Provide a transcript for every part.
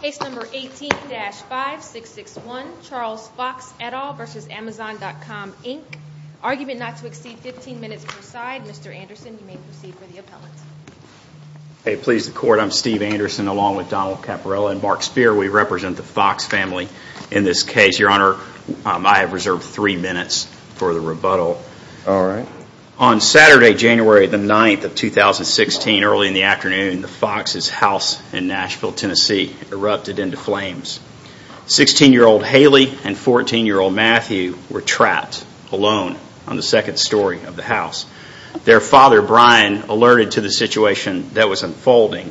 Case number 18-5661, Charles Fox et al. v. Amazon.com Inc. Argument not to exceed 15 minutes per side. Mr. Anderson, you may proceed for the appellate. Please the court, I'm Steve Anderson along with Donald Caparella and Mark Spear. We represent the Fox family in this case. Your Honor, I have reserved three minutes for the rebuttal. All right. On Saturday, January the 9th of 2016, early in the afternoon, the Fox's house in Nashville, Tennessee erupted into flames. 16-year-old Haley and 14-year-old Matthew were trapped alone on the second story of the house. Their father, Brian, alerted to the situation that was unfolding,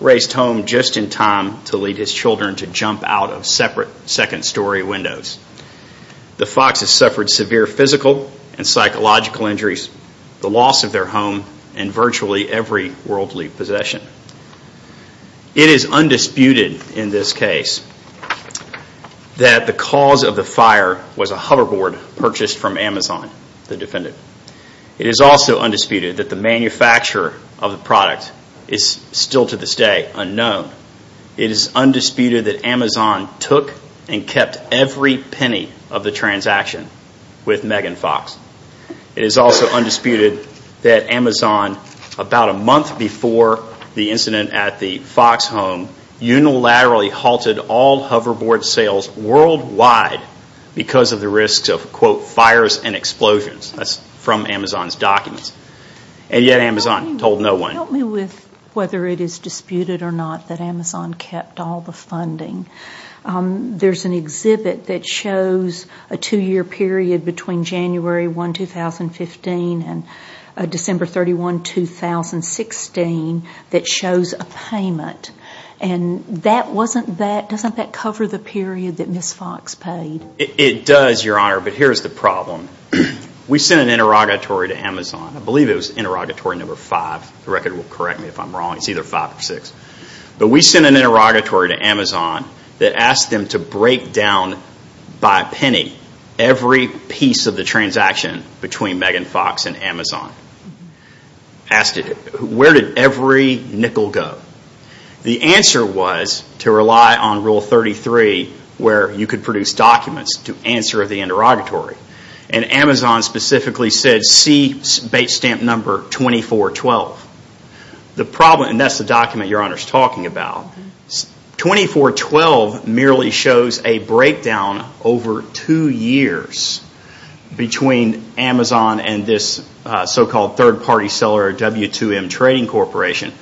raced home just in time to lead his children to jump out of separate second-story windows. The Fox has suffered severe physical and psychological injuries, the loss of their home and virtually every worldly possession. It is undisputed in this case that the cause of the fire was a hoverboard purchased from Amazon, the defendant. It is also undisputed that the manufacturer of the product is still to this day unknown. It is undisputed that Amazon took and kept every penny of the transaction with Megan Fox. It is also undisputed that Amazon, about a month before the incident at the Fox home, unilaterally halted all hoverboard sales worldwide because of the risks of, quote, fires and explosions. That's from Amazon's documents. And yet Amazon told no one. Help me with whether it is disputed or not that Amazon kept all the funding. There's an exhibit that shows a two-year period between January 1, 2015 and December 31, 2016 that shows a payment. And that wasn't that. Doesn't that cover the period that Ms. Fox paid? It does, Your Honor, but here's the problem. We sent an interrogatory to Amazon. I believe it was interrogatory number five. The record will correct me if I'm wrong. It's either five or six. But we sent an interrogatory to Amazon that asked them to break down by a penny every piece of the transaction between Megan Fox and Amazon. Where did every nickel go? The answer was to rely on Rule 33 where you could produce documents to answer the interrogatory. And Amazon specifically said see bait stamp number 2412. And that's the document Your Honor is talking about. 2412 merely shows a breakdown over two years between Amazon and this so-called third-party seller, W2M Trading Corporation.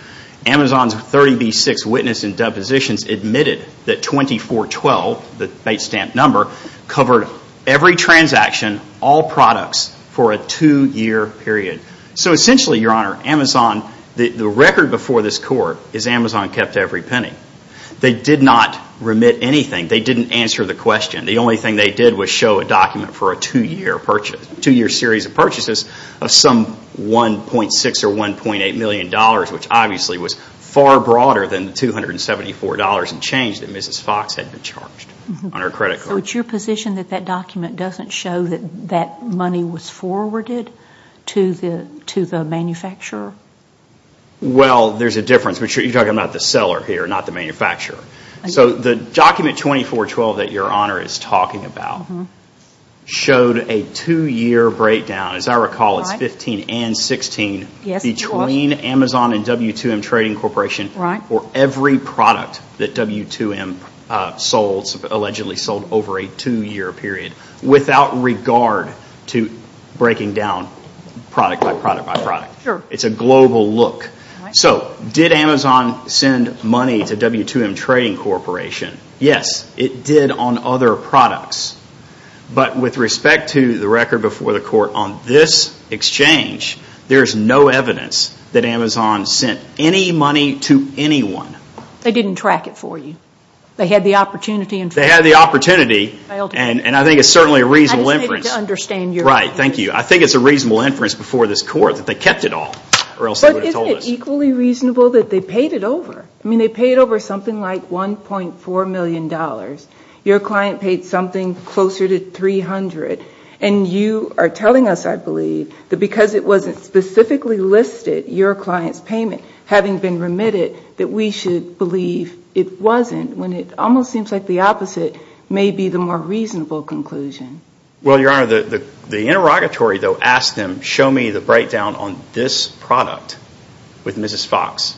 Amazon's 30B6 witness in depositions admitted that 2412, the bait stamp number, covered every transaction, all products for a two-year period. So essentially, Your Honor, the record before this court is Amazon kept every penny. They did not remit anything. They didn't answer the question. The only thing they did was show a document for a two-year series of purchases of some $1.6 or $1.8 million, which obviously was far broader than the $274 in change that Mrs. Fox had been charged on her credit card. So it's your position that that document doesn't show that that money was forwarded to the manufacturer? Well, there's a difference. You're talking about the seller here, not the manufacturer. So the document 2412 that Your Honor is talking about showed a two-year breakdown. As I recall, it's 15 and 16 between Amazon and W2M Trading Corporation for every product that W2M sold, allegedly sold over a two-year period without regard to breaking down product by product by product. It's a global look. So did Amazon send money to W2M Trading Corporation? Yes, it did on other products. But with respect to the record before the court on this exchange, there's no evidence that Amazon sent any money to anyone. They didn't track it for you? They had the opportunity and failed to? They had the opportunity, and I think it's certainly a reasonable inference. I just needed to understand your point. Right, thank you. I think it's a reasonable inference before this court that they kept it all, or else they would have told us. But isn't it equally reasonable that they paid it over? I mean, they paid over something like $1.4 million. Your client paid something closer to $300. And you are telling us, I believe, that because it wasn't specifically listed, your client's payment, having been remitted, that we should believe it wasn't, when it almost seems like the opposite may be the more reasonable conclusion. Well, Your Honor, the interrogatory, though, asked them, show me the breakdown on this product with Mrs. Fox.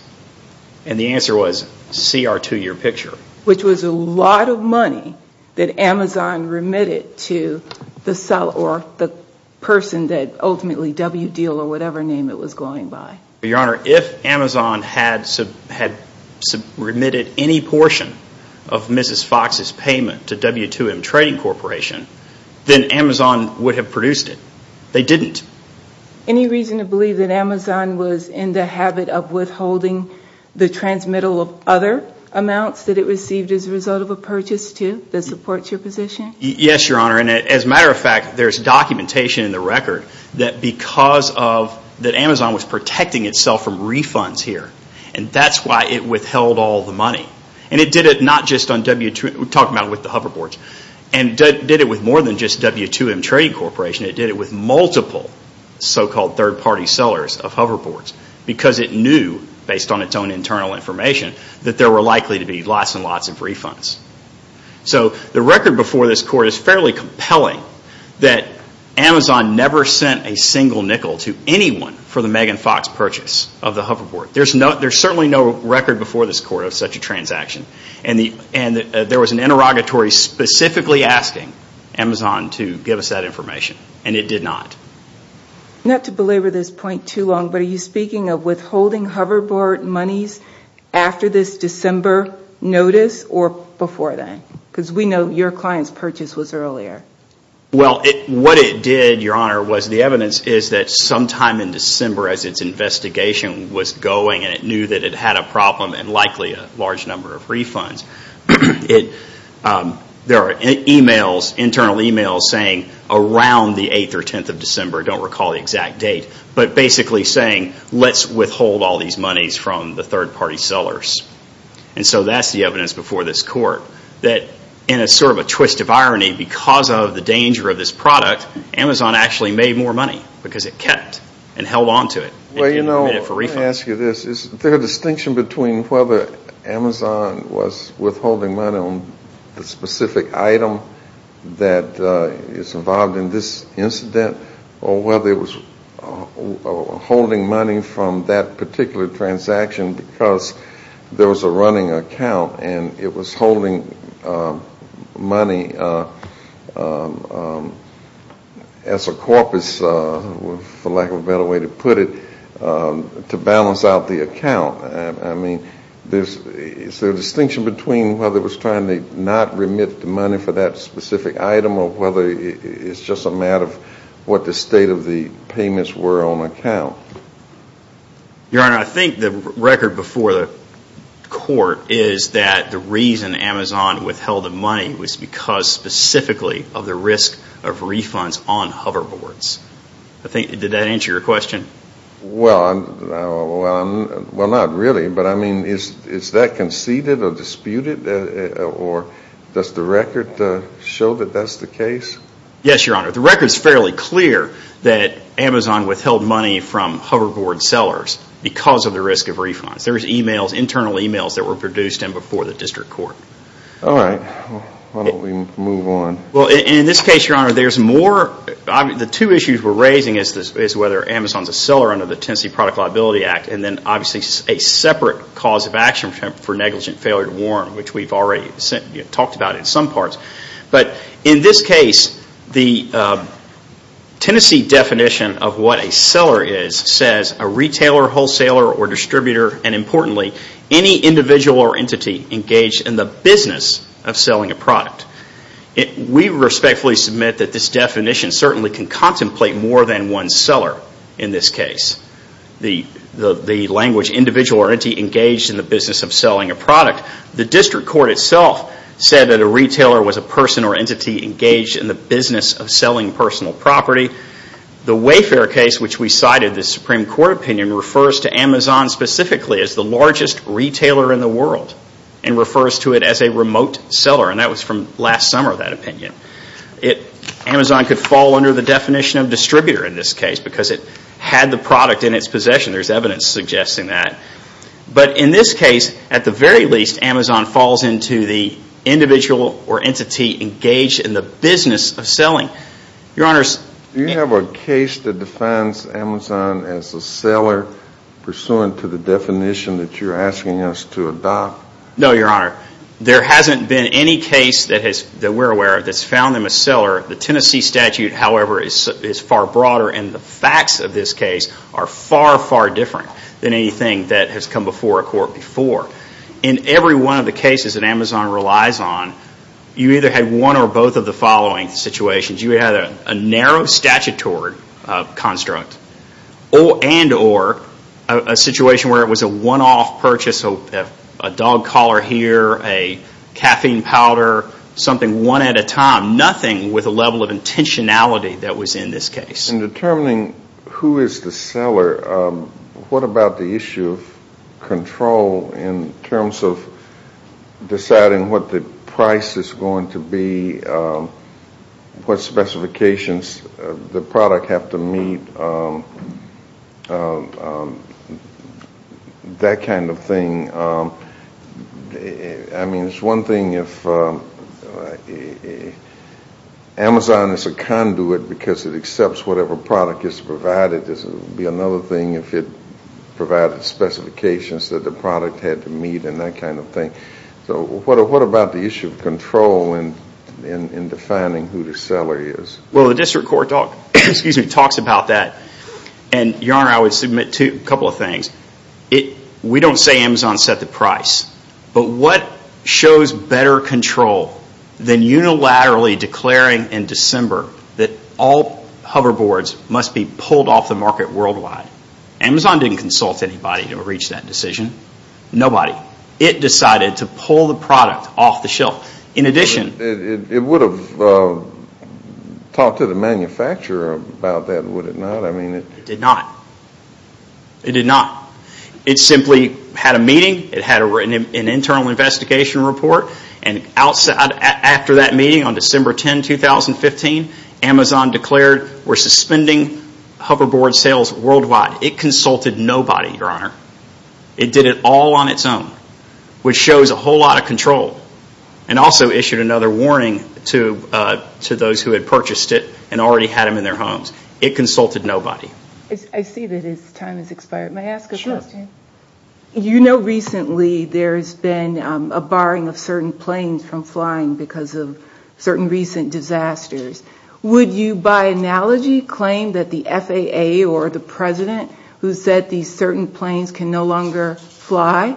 And the answer was, see our two-year picture. Which was a lot of money that Amazon remitted to the person that ultimately, W. Deal or whatever name it was going by. Your Honor, if Amazon had remitted any portion of Mrs. Fox's payment to W2M Trading Corporation, then Amazon would have produced it. They didn't. Any reason to believe that Amazon was in the habit of withholding the transmittal of other amounts that it received as a result of a purchase to, that supports your position? Yes, Your Honor. And as a matter of fact, there's documentation in the record that because of, that Amazon was protecting itself from refunds here. And that's why it withheld all the money. And it did it not just on W2M, we're talking about with the hoverboards. And did it with more than just W2M Trading Corporation. It did it with multiple so-called third-party sellers of hoverboards. Because it knew, based on its own internal information, that there were likely to be lots and lots of refunds. So the record before this Court is fairly compelling that Amazon never sent a single nickel to anyone for the Megan Fox purchase of the hoverboard. There's certainly no record before this Court of such a transaction. And there was an interrogatory specifically asking Amazon to give us that information. And it did not. Not to belabor this point too long, but are you speaking of withholding hoverboard monies after this December notice or before then? Because we know your client's purchase was earlier. Well, what it did, Your Honor, was the evidence is that sometime in December, as its investigation was going and it knew that it had a problem and likely a large number of refunds, there are internal emails saying around the 8th or 10th of December, I don't recall the exact date, but basically saying let's withhold all these monies from the third-party sellers. And so that's the evidence before this Court. And it's sort of a twist of irony because of the danger of this product, Amazon actually made more money because it kept and held on to it. Well, you know, let me ask you this. Is there a distinction between whether Amazon was withholding money on the specific item that is involved in this incident or whether it was holding money from that particular transaction because there was a running account and it was holding money as a corpus, for lack of a better way to put it, to balance out the account? I mean, is there a distinction between whether it was trying to not remit the money for that specific item or whether it's just a matter of what the state of the payments were on account? Your Honor, I think the record before the Court is that the reason Amazon withheld the money was because specifically of the risk of refunds on hoverboards. Did that answer your question? Well, not really, but I mean, is that conceded or disputed or does the record show that that's the case? Yes, Your Honor. The record is fairly clear that Amazon withheld money from hoverboard sellers because of the risk of refunds. There's emails, internal emails that were produced in before the District Court. All right. Why don't we move on? Well, in this case, Your Honor, there's more. The two issues we're raising is whether Amazon's a seller under the Tennessee Product Liability Act and then obviously a separate cause of action for negligent failure to warrant, which we've already talked about in some parts. But in this case, the Tennessee definition of what a seller is says, a retailer, wholesaler, or distributor, and importantly, any individual or entity engaged in the business of selling a product. We respectfully submit that this definition certainly can contemplate more than one seller in this case, the language individual or entity engaged in the business of selling a product. The District Court itself said that a retailer was a person or entity engaged in the business of selling personal property. The Wayfair case, which we cited, the Supreme Court opinion, refers to Amazon specifically as the largest retailer in the world and refers to it as a remote seller. And that was from last summer, that opinion. Amazon could fall under the definition of distributor in this case because it had the product in its possession. There's evidence suggesting that. But in this case, at the very least, Amazon falls into the individual or entity engaged in the business of selling. Your Honor, Do you have a case that defines Amazon as a seller pursuant to the definition that you're asking us to adopt? No, Your Honor. There hasn't been any case that we're aware of that's found them a seller. The Tennessee statute, however, is far broader and the facts of this case are far, far different than anything that has come before a court before. In every one of the cases that Amazon relies on, you either had one or both of the following situations. You had a narrow statutory construct and or a situation where it was a one-off purchase. A dog collar here, a caffeine powder, something one at a time. Nothing with a level of intentionality that was in this case. In determining who is the seller, what about the issue of control in terms of deciding what the price is going to be, what specifications the product have to meet, that kind of thing. I mean, it's one thing if Amazon is a conduit because it accepts whatever product is provided. It would be another thing if it provided specifications that the product had to meet and that kind of thing. So what about the issue of control in defining who the seller is? Well, the district court talks about that and, Your Honor, I would submit a couple of things. We don't say Amazon set the price, but what shows better control than unilaterally declaring in December that all hoverboards must be pulled off the market worldwide? Amazon didn't consult anybody to reach that decision. Nobody. It decided to pull the product off the shelf. In addition... It would have talked to the manufacturer about that, would it not? It did not. It did not. It simply had a meeting. It had written an internal investigation report and after that meeting on December 10, 2015, It consulted nobody, Your Honor. It did it all on its own, which shows a whole lot of control and also issued another warning to those who had purchased it and already had them in their homes. It consulted nobody. I see that time has expired. May I ask a question? Sure. You know recently there has been a barring of certain planes from flying because of certain recent disasters. Would you, by analogy, claim that the FAA or the President who said these certain planes can no longer fly?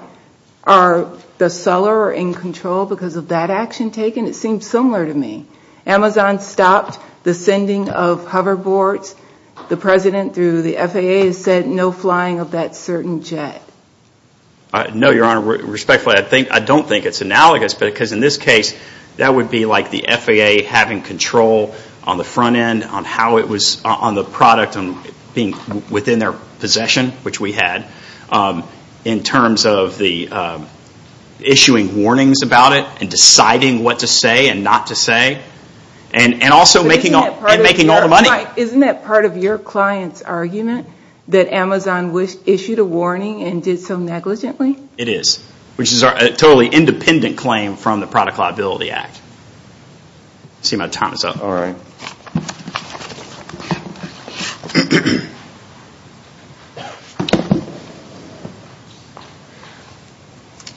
Are the seller in control because of that action taken? It seems similar to me. Amazon stopped the sending of hoverboards. The President through the FAA has said no flying of that certain jet. No, Your Honor. Respectfully, I don't think it's analogous because in this case that would be like the FAA having control on the front end on how it was on the product and being within their possession, which we had, in terms of the issuing warnings about it and deciding what to say and not to say and also making all the money. Isn't that part of your client's argument that Amazon issued a warning and did so negligently? It is, which is a totally independent claim from the Product Liability Act. I see my time is up. All right.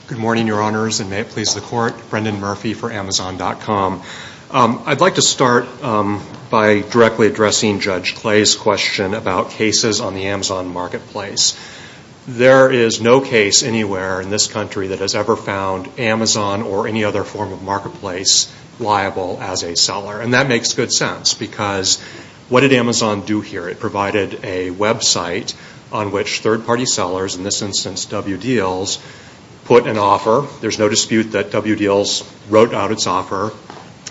Good morning, Your Honors, and may it please the Court. Brendan Murphy for Amazon.com. I'd like to start by directly addressing Judge Clay's question about cases on the Amazon marketplace. There is no case anywhere in this country that has ever found Amazon or any other form of marketplace liable as a seller, and that makes good sense because what did Amazon do here? It provided a website on which third-party sellers, in this instance WDeals, put an offer. There's no dispute that WDeals wrote out its offer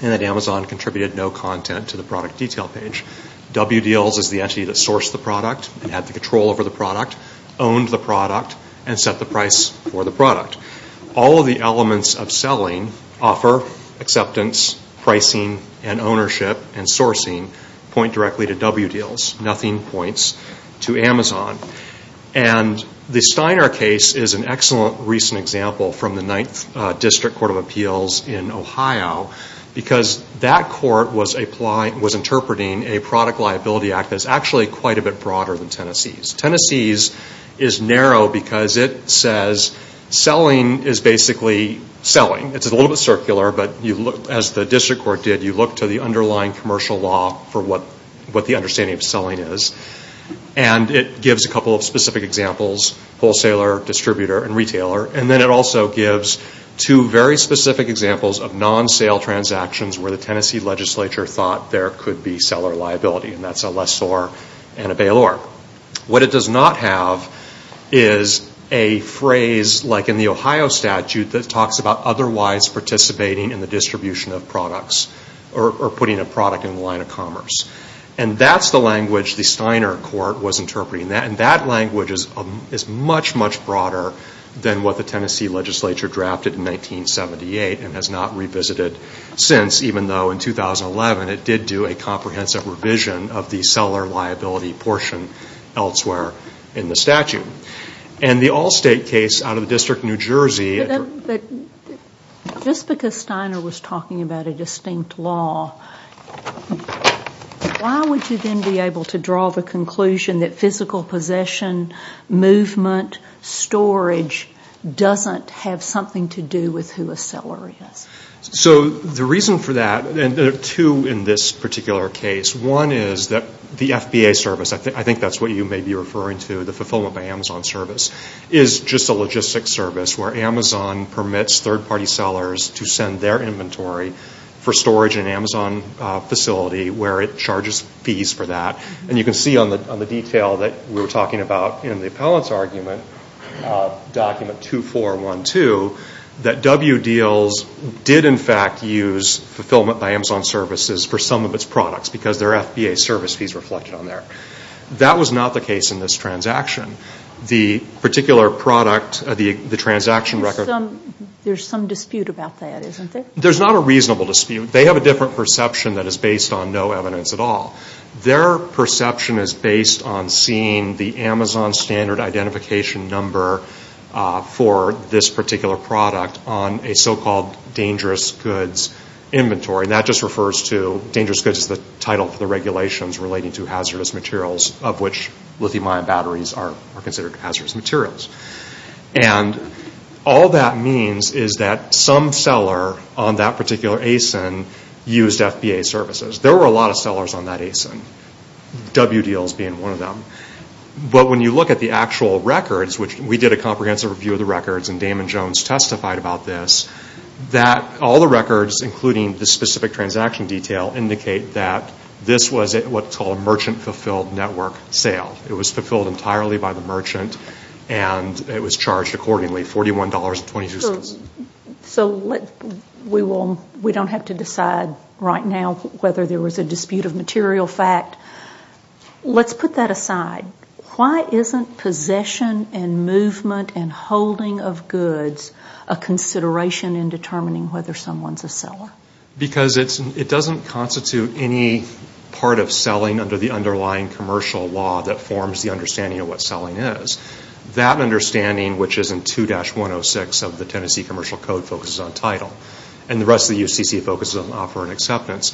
and that Amazon contributed no content to the product detail page. WDeals is the entity that sourced the product and had the control over the product, owned the product, and set the price for the product. All of the elements of selling, offer, acceptance, pricing, and ownership and sourcing, point directly to WDeals. Nothing points to Amazon. The Steiner case is an excellent recent example from the Ninth District Court of Appeals in Ohio because that court was interpreting a Product Liability Act that's actually quite a bit broader than Tennessee's. Tennessee's is narrow because it says selling is basically selling. It's a little bit circular, but as the district court did, you look to the underlying commercial law for what the understanding of selling is, and it gives a couple of specific examples, wholesaler, distributor, and retailer, and then it also gives two very specific examples of non-sale transactions where the Tennessee legislature thought there could be seller liability, and that's a lessor and a bailor. What it does not have is a phrase like in the Ohio statute that talks about otherwise participating in the distribution of products or putting a product in the line of commerce, and that's the language the Steiner court was interpreting, and that language is much, much broader than what the Tennessee legislature drafted in 1978 and has not revisited since, even though in 2011 it did do a comprehensive revision of the seller liability portion elsewhere in the statute. And the Allstate case out of the District of New Jersey... But just because Steiner was talking about a distinct law, why would you then be able to draw the conclusion that physical possession, movement, storage doesn't have something to do with who a seller is? So the reason for that, and there are two in this particular case. One is that the FBA service, I think that's what you may be referring to, the fulfillment by Amazon service, is just a logistic service where Amazon permits third-party sellers to send their inventory for storage in an Amazon facility where it charges fees for that, and you can see on the detail that we were talking about in the appellant's argument, document 2412, that WDeals did in fact use fulfillment by Amazon services for some of its products because their FBA service fees reflected on there. That was not the case in this transaction. The particular product, the transaction record... There's some dispute about that, isn't there? There's not a reasonable dispute. They have a different perception that is based on no evidence at all. Their perception is based on seeing the Amazon standard identification number for this particular product on a so-called dangerous goods inventory, and that just refers to dangerous goods as the title for the regulations relating to hazardous materials, of which lithium-ion batteries are considered hazardous materials. And all that means is that some seller on that particular ASIN used FBA services. There were a lot of sellers on that ASIN, WDeals being one of them. But when you look at the actual records, which we did a comprehensive review of the records, and Damon Jones testified about this, that all the records, including the specific transaction detail, indicate that this was what's called a merchant-fulfilled network sale. It was fulfilled entirely by the merchant, and it was charged accordingly, $41.26. So we don't have to decide right now whether there was a dispute of material fact. Let's put that aside. Why isn't possession and movement and holding of goods a consideration in determining whether someone's a seller? Because it doesn't constitute any part of selling under the underlying commercial law that forms the understanding of what selling is. That understanding, which is in 2-106 of the Tennessee Commercial Code, focuses on title, and the rest of the UCC focuses on offer and acceptance.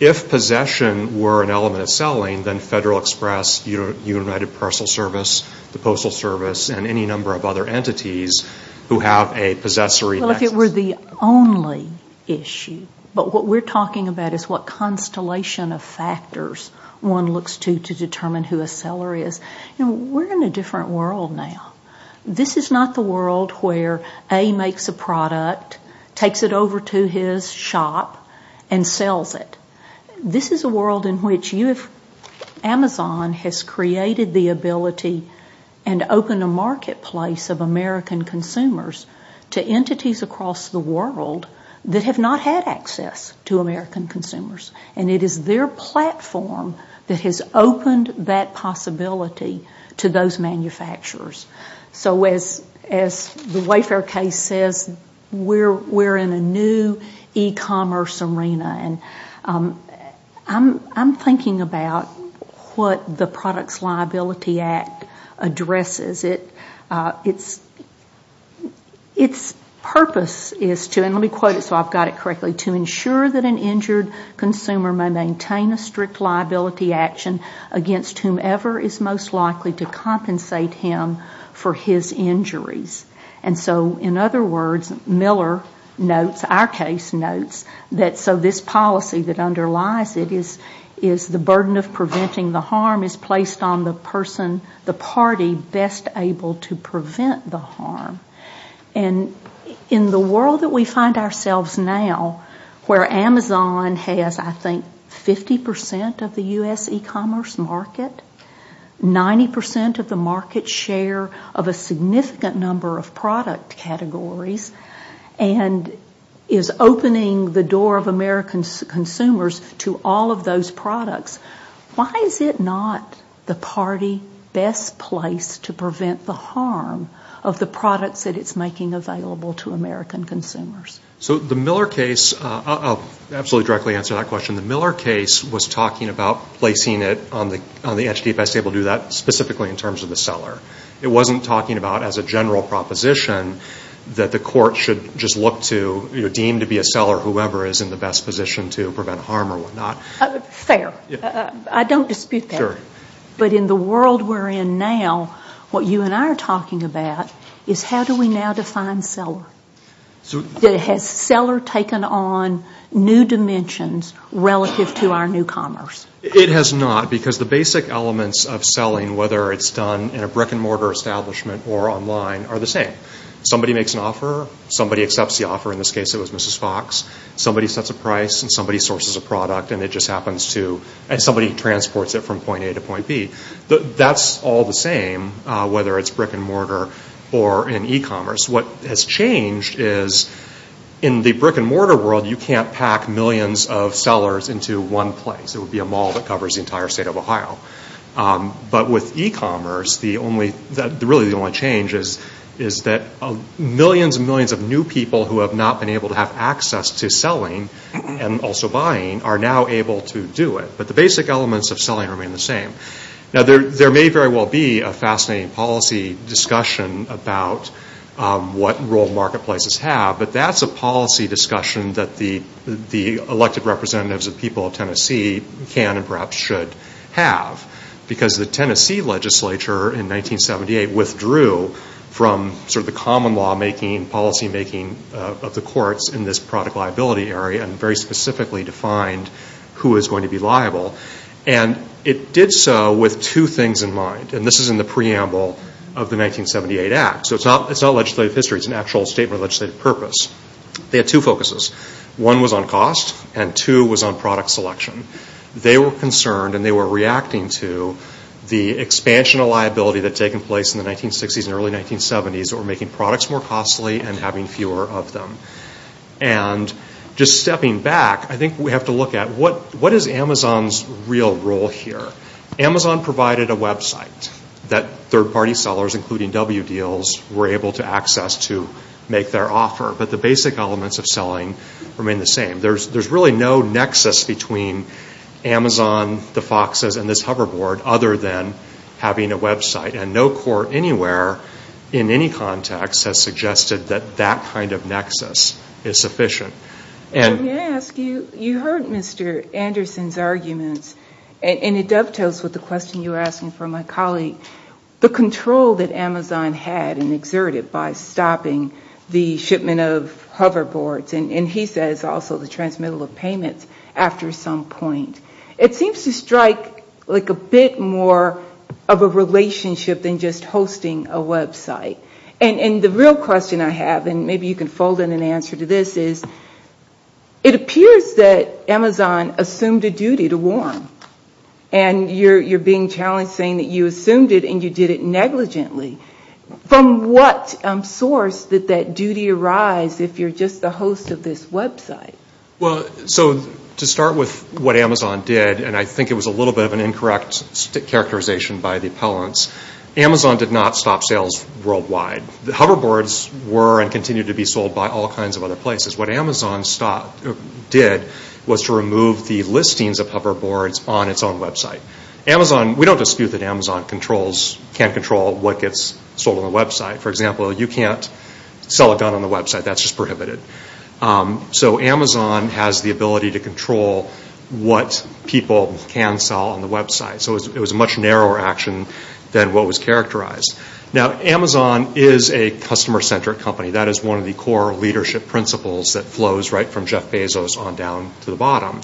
If possession were an element of selling, then Federal Express, United Personal Service, the Postal Service, and any number of other entities who have a possessory nexus. Well, if it were the only issue. But what we're talking about is what constellation of factors one looks to to determine who a seller is. We're in a different world now. This is not the world where A makes a product, takes it over to his shop, and sells it. This is a world in which Amazon has created the ability and opened a marketplace of American consumers to entities across the world that have not had access to American consumers. And it is their platform that has opened that possibility to those manufacturers. So as the Wayfair case says, we're in a new e-commerce arena. And I'm thinking about what the Products Liability Act addresses. Its purpose is to, and let me quote it so I've got it correctly, to ensure that an injured consumer may maintain a strict liability action against whomever is most likely to compensate him for his injuries. And so, in other words, Miller notes, our case notes, that so this policy that underlies it is the burden of preventing the harm is placed on the person, the party, best able to prevent the harm. And in the world that we find ourselves now, where Amazon has, I think, 50% of the U.S. e-commerce market, 90% of the market share of a significant number of product categories, and is opening the door of American consumers to all of those products, why is it not the party best place to prevent the harm of the products that it's making available to American consumers? So the Miller case, I'll absolutely directly answer that question. The Miller case was talking about placing it on the entity best able to do that specifically in terms of the seller. It wasn't talking about, as a general proposition, that the court should just look to deem to be a seller whoever is in the best position to prevent harm or whatnot. Fair. I don't dispute that. But in the world we're in now, what you and I are talking about is how do we now define seller? Has seller taken on new dimensions relative to our new commerce? It has not, because the basic elements of selling, whether it's done in a brick-and-mortar establishment or online, are the same. Somebody makes an offer, somebody accepts the offer. In this case, it was Mrs. Fox. Somebody sets a price, and somebody sources a product, and it just happens to, and somebody transports it from point A to point B. That's all the same, whether it's brick-and-mortar or in e-commerce. What has changed is in the brick-and-mortar world, you can't pack millions of sellers into one place. It would be a mall that covers the entire state of Ohio. But with e-commerce, really the only change is that millions and millions of new people who have not been able to have access to selling and also buying are now able to do it. But the basic elements of selling remain the same. There may very well be a fascinating policy discussion about what role marketplaces have, but that's a policy discussion that the elected representatives of the people of Tennessee can and perhaps should have, because the Tennessee legislature in 1978 withdrew from the common lawmaking, policymaking of the courts in this product liability area and very specifically defined who is going to be liable. And it did so with two things in mind. And this is in the preamble of the 1978 Act. So it's not legislative history. It's an actual statement of legislative purpose. They had two focuses. One was on cost and two was on product selection. They were concerned and they were reacting to the expansion of liability that had taken place in the 1960s and early 1970s that were making products more costly and having fewer of them. And just stepping back, I think we have to look at what is Amazon's real role here. Amazon provided a website that third-party sellers, including WDeals, were able to access to make their offer. But the basic elements of selling remain the same. There's really no nexus between Amazon, the Foxes, and this hoverboard other than having a website. And no court anywhere in any context has suggested that that kind of nexus is sufficient. Let me ask you, you heard Mr. Anderson's arguments and it dovetails with the question you were asking from my colleague. The control that Amazon had and exerted by stopping the shipment of hoverboards and he says also the transmittal of payments after some point, it seems to strike like a bit more of a relationship than just hosting a website. And the real question I have, and maybe you can fold in an answer to this, is it appears that Amazon assumed a duty to warn. And you're being challenged saying that you assumed it and you did it negligently. From what source did that duty arise if you're just the host of this website? Well, so to start with what Amazon did, and I think it was a little bit of an incorrect characterization by the appellants, Amazon did not stop sales worldwide. Hoverboards were and continue to be sold by all kinds of other places. What Amazon did was to remove the listings of hoverboards on its own website. We don't dispute that Amazon can't control what gets sold on the website. For example, you can't sell a gun on the website. That's just prohibited. So Amazon has the ability to control what people can sell on the website. So it was a much narrower action than what was characterized. Now, Amazon is a customer-centric company. That is one of the core leadership principles that flows right from Jeff Bezos on down to the bottom.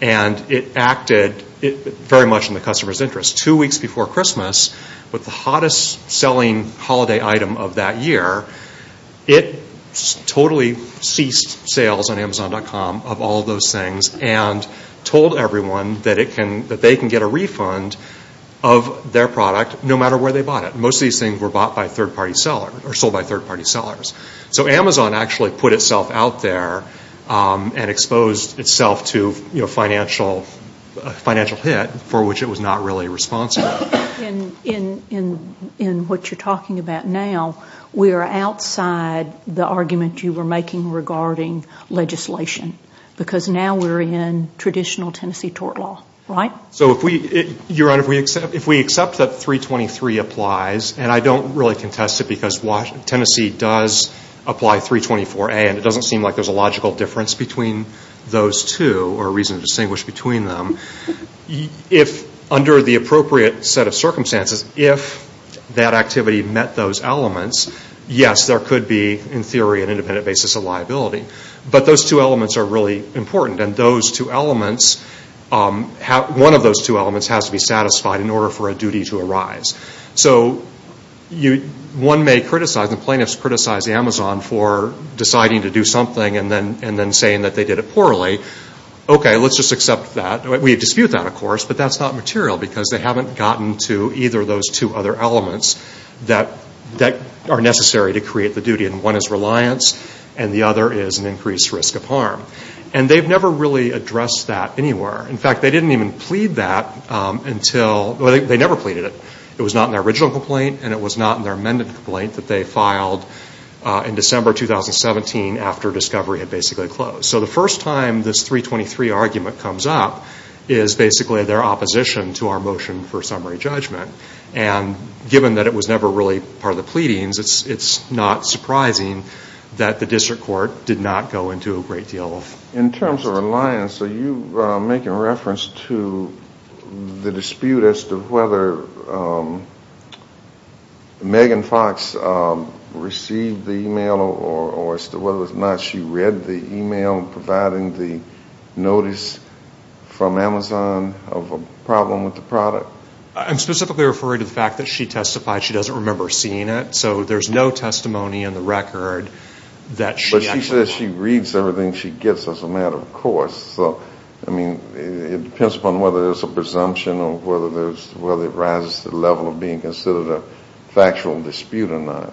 And it acted very much in the customer's interest. Two weeks before Christmas, with the hottest selling holiday item of that year, it totally ceased sales on Amazon.com of all those things and told everyone that they can get a refund of their product no matter where they bought it. Most of these things were bought by third-party sellers or sold by third-party sellers. So Amazon actually put itself out there and exposed itself to financial hit for which it was not really responsible. In what you're talking about now, we are outside the argument you were making regarding legislation because now we're in traditional Tennessee tort law, right? Your Honor, if we accept that 323 applies, and I don't really contest it because Tennessee does apply 324A and it doesn't seem like there's a logical difference between those two or a reason to distinguish between them, if under the appropriate set of circumstances, if that activity met those elements, yes, there could be, in theory, an independent basis of liability. But those two elements are really important. And those two elements, one of those two elements has to be satisfied in order for a duty to arise. So one may criticize, and plaintiffs criticize Amazon for deciding to do something and then saying that they did it poorly. Okay, let's just accept that. We dispute that, of course, but that's not material because they haven't gotten to either of those two other elements that are necessary to create the duty. And one is reliance and the other is an increased risk of harm. And they've never really addressed that anywhere. In fact, they didn't even plead that until they never pleaded it. It was not in their original complaint and it was not in their amended complaint that they filed in December 2017 after discovery had basically closed. So the first time this 323 argument comes up is basically their opposition to our motion for summary judgment. And given that it was never really part of the pleadings, it's not surprising that the district court did not go into a great deal of custody. In terms of reliance, are you making reference to the dispute as to whether Megan Fox received the email or as to whether or not she read the email providing the notice from Amazon of a problem with the product? I'm specifically referring to the fact that she testified she doesn't remember seeing it. So there's no testimony in the record that she actually- But she says she reads everything she gets as a matter of course. So, I mean, it depends upon whether there's a presumption or whether it rises to the level of being considered a factual dispute or not.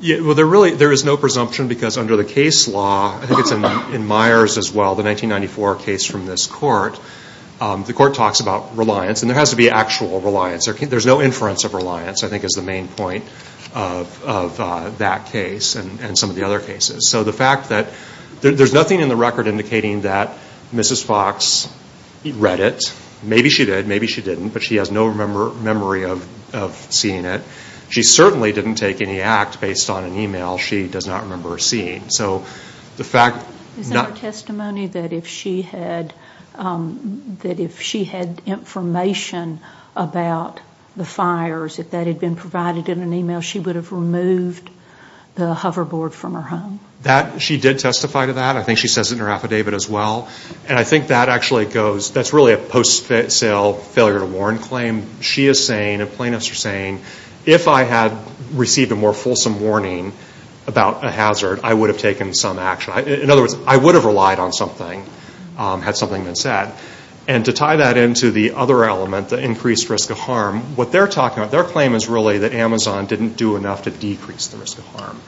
Well, there really is no presumption because under the case law, I think it's in Myers as well, the 1994 case from this court, the court talks about reliance and there has to be actual reliance. There's no inference of reliance I think is the main point of that case and some of the other cases. So the fact that there's nothing in the record indicating that Mrs. Fox read it. Maybe she did, maybe she didn't, but she has no memory of seeing it. She certainly didn't take any act based on an email she does not remember seeing. Is there a testimony that if she had information about the fires, if that had been provided in an email, she would have removed the hoverboard from her home? She did testify to that. I think she says it in her affidavit as well. And I think that actually goes, that's really a post-sale failure to warn claim. She is saying, the plaintiffs are saying, if I had received a more fulsome warning about a hazard, I would have taken some action. In other words, I would have relied on something had something been said. And to tie that into the other element, the increased risk of harm, what they're talking about, their claim is really that Amazon didn't do enough to decrease the risk of harm.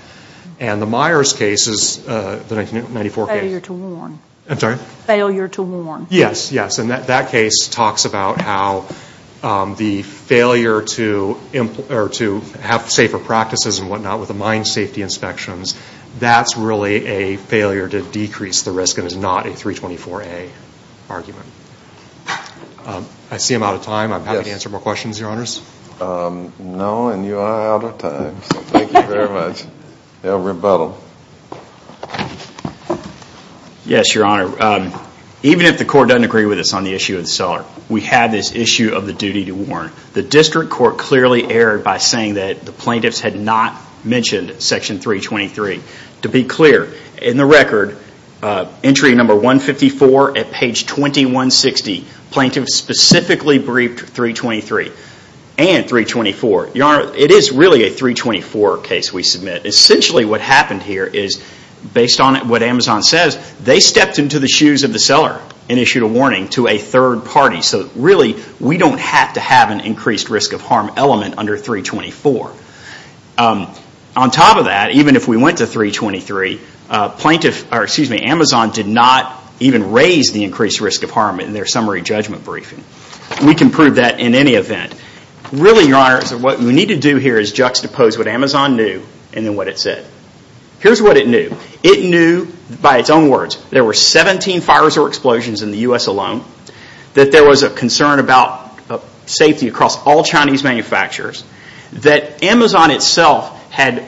And the Myers case is the 1994 case. Failure to warn. I'm sorry? Failure to warn. Yes, yes. And that case talks about how the failure to have safer practices and whatnot with the mine safety inspections, that's really a failure to decrease the risk. It is not a 324A argument. I see I'm out of time. I'm happy to answer more questions, Your Honors. No, and you are out of time. Thank you very much. Rebuttal. Yes, Your Honor. Even if the Court doesn't agree with us on the issue of the cellar, we have this issue of the duty to warn. The District Court clearly erred by saying that the plaintiffs had not mentioned Section 323. To be clear, in the record, entry number 154 at page 2160, plaintiffs specifically briefed 323 and 324. Your Honor, it is really a 324 case we submit. Essentially what happened here is, based on what Amazon says, they stepped into the shoes of the seller and issued a warning to a third party. So really, we don't have to have an increased risk of harm element under 324. On top of that, even if we went to 323, Amazon did not even raise the increased risk of harm in their summary judgment briefing. We can prove that in any event. Really, Your Honor, what we need to do here is juxtapose what Amazon knew and then what it said. Here's what it knew. It knew, by its own words, there were 17 fires or explosions in the U.S. alone, that there was a concern about safety across all Chinese manufacturers, that Amazon itself had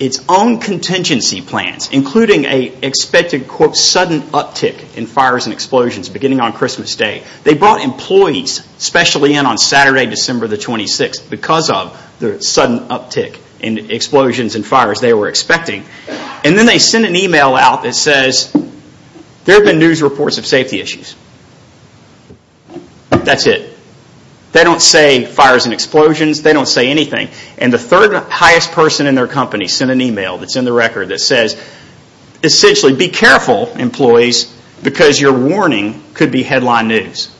its own contingency plans, including an expected, quote, sudden uptick in fires and explosions beginning on Christmas Day. They brought employees specially in on Saturday, December 26th, because of the sudden uptick in explosions and fires they were expecting. Then they sent an email out that says, there have been news reports of safety issues. That's it. They don't say fires and explosions. They don't say anything. The third highest person in their company sent an email that's in the record that says, essentially, be careful, employees, because your warning could be headline news.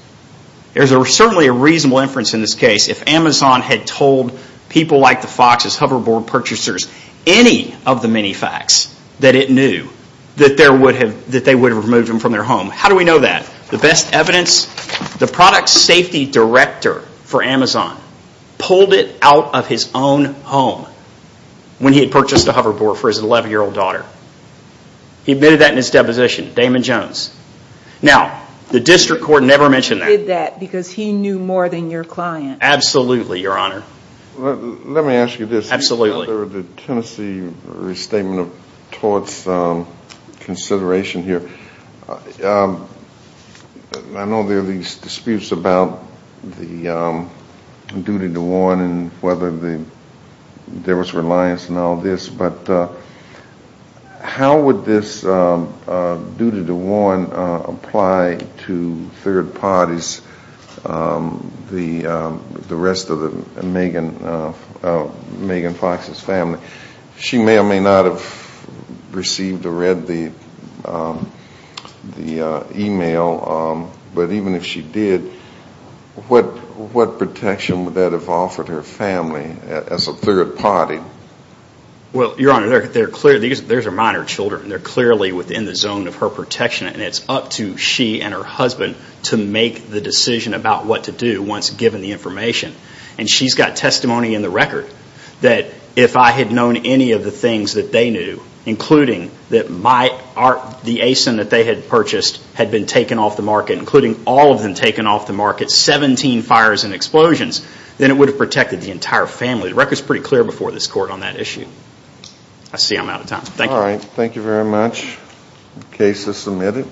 There's certainly a reasonable inference in this case. If Amazon had told people like the Foxes, hoverboard purchasers, any of the many facts that it knew, that they would have removed them from their home. How do we know that? The best evidence, the product safety director for Amazon pulled it out of his own home when he had purchased a hoverboard for his 11-year-old daughter. He admitted that in his deposition, Damon Jones. Now, the district court never mentioned that. He did that because he knew more than your client. Absolutely, Your Honor. Let me ask you this. Absolutely. The Tennessee Restatement of Torts consideration here. I know there are these disputes about the duty to warn and whether there was reliance and all this, but how would this duty to warn apply to third parties, the rest of Megan Fox's family? She may or may not have received or read the email, but even if she did, what protection would that have offered her family as a third party? Well, Your Honor, there's her minor children. They're clearly within the zone of her protection, and it's up to she and her husband to make the decision about what to do once given the information. And she's got testimony in the record that if I had known any of the things that they knew, including that the ASIN that they had purchased had been taken off the market, including all of them taken off the market, 17 fires and explosions, then it would have protected the entire family. The record's pretty clear before this Court on that issue. I see I'm out of time. Thank you. All right. Thank you very much. The case is submitted.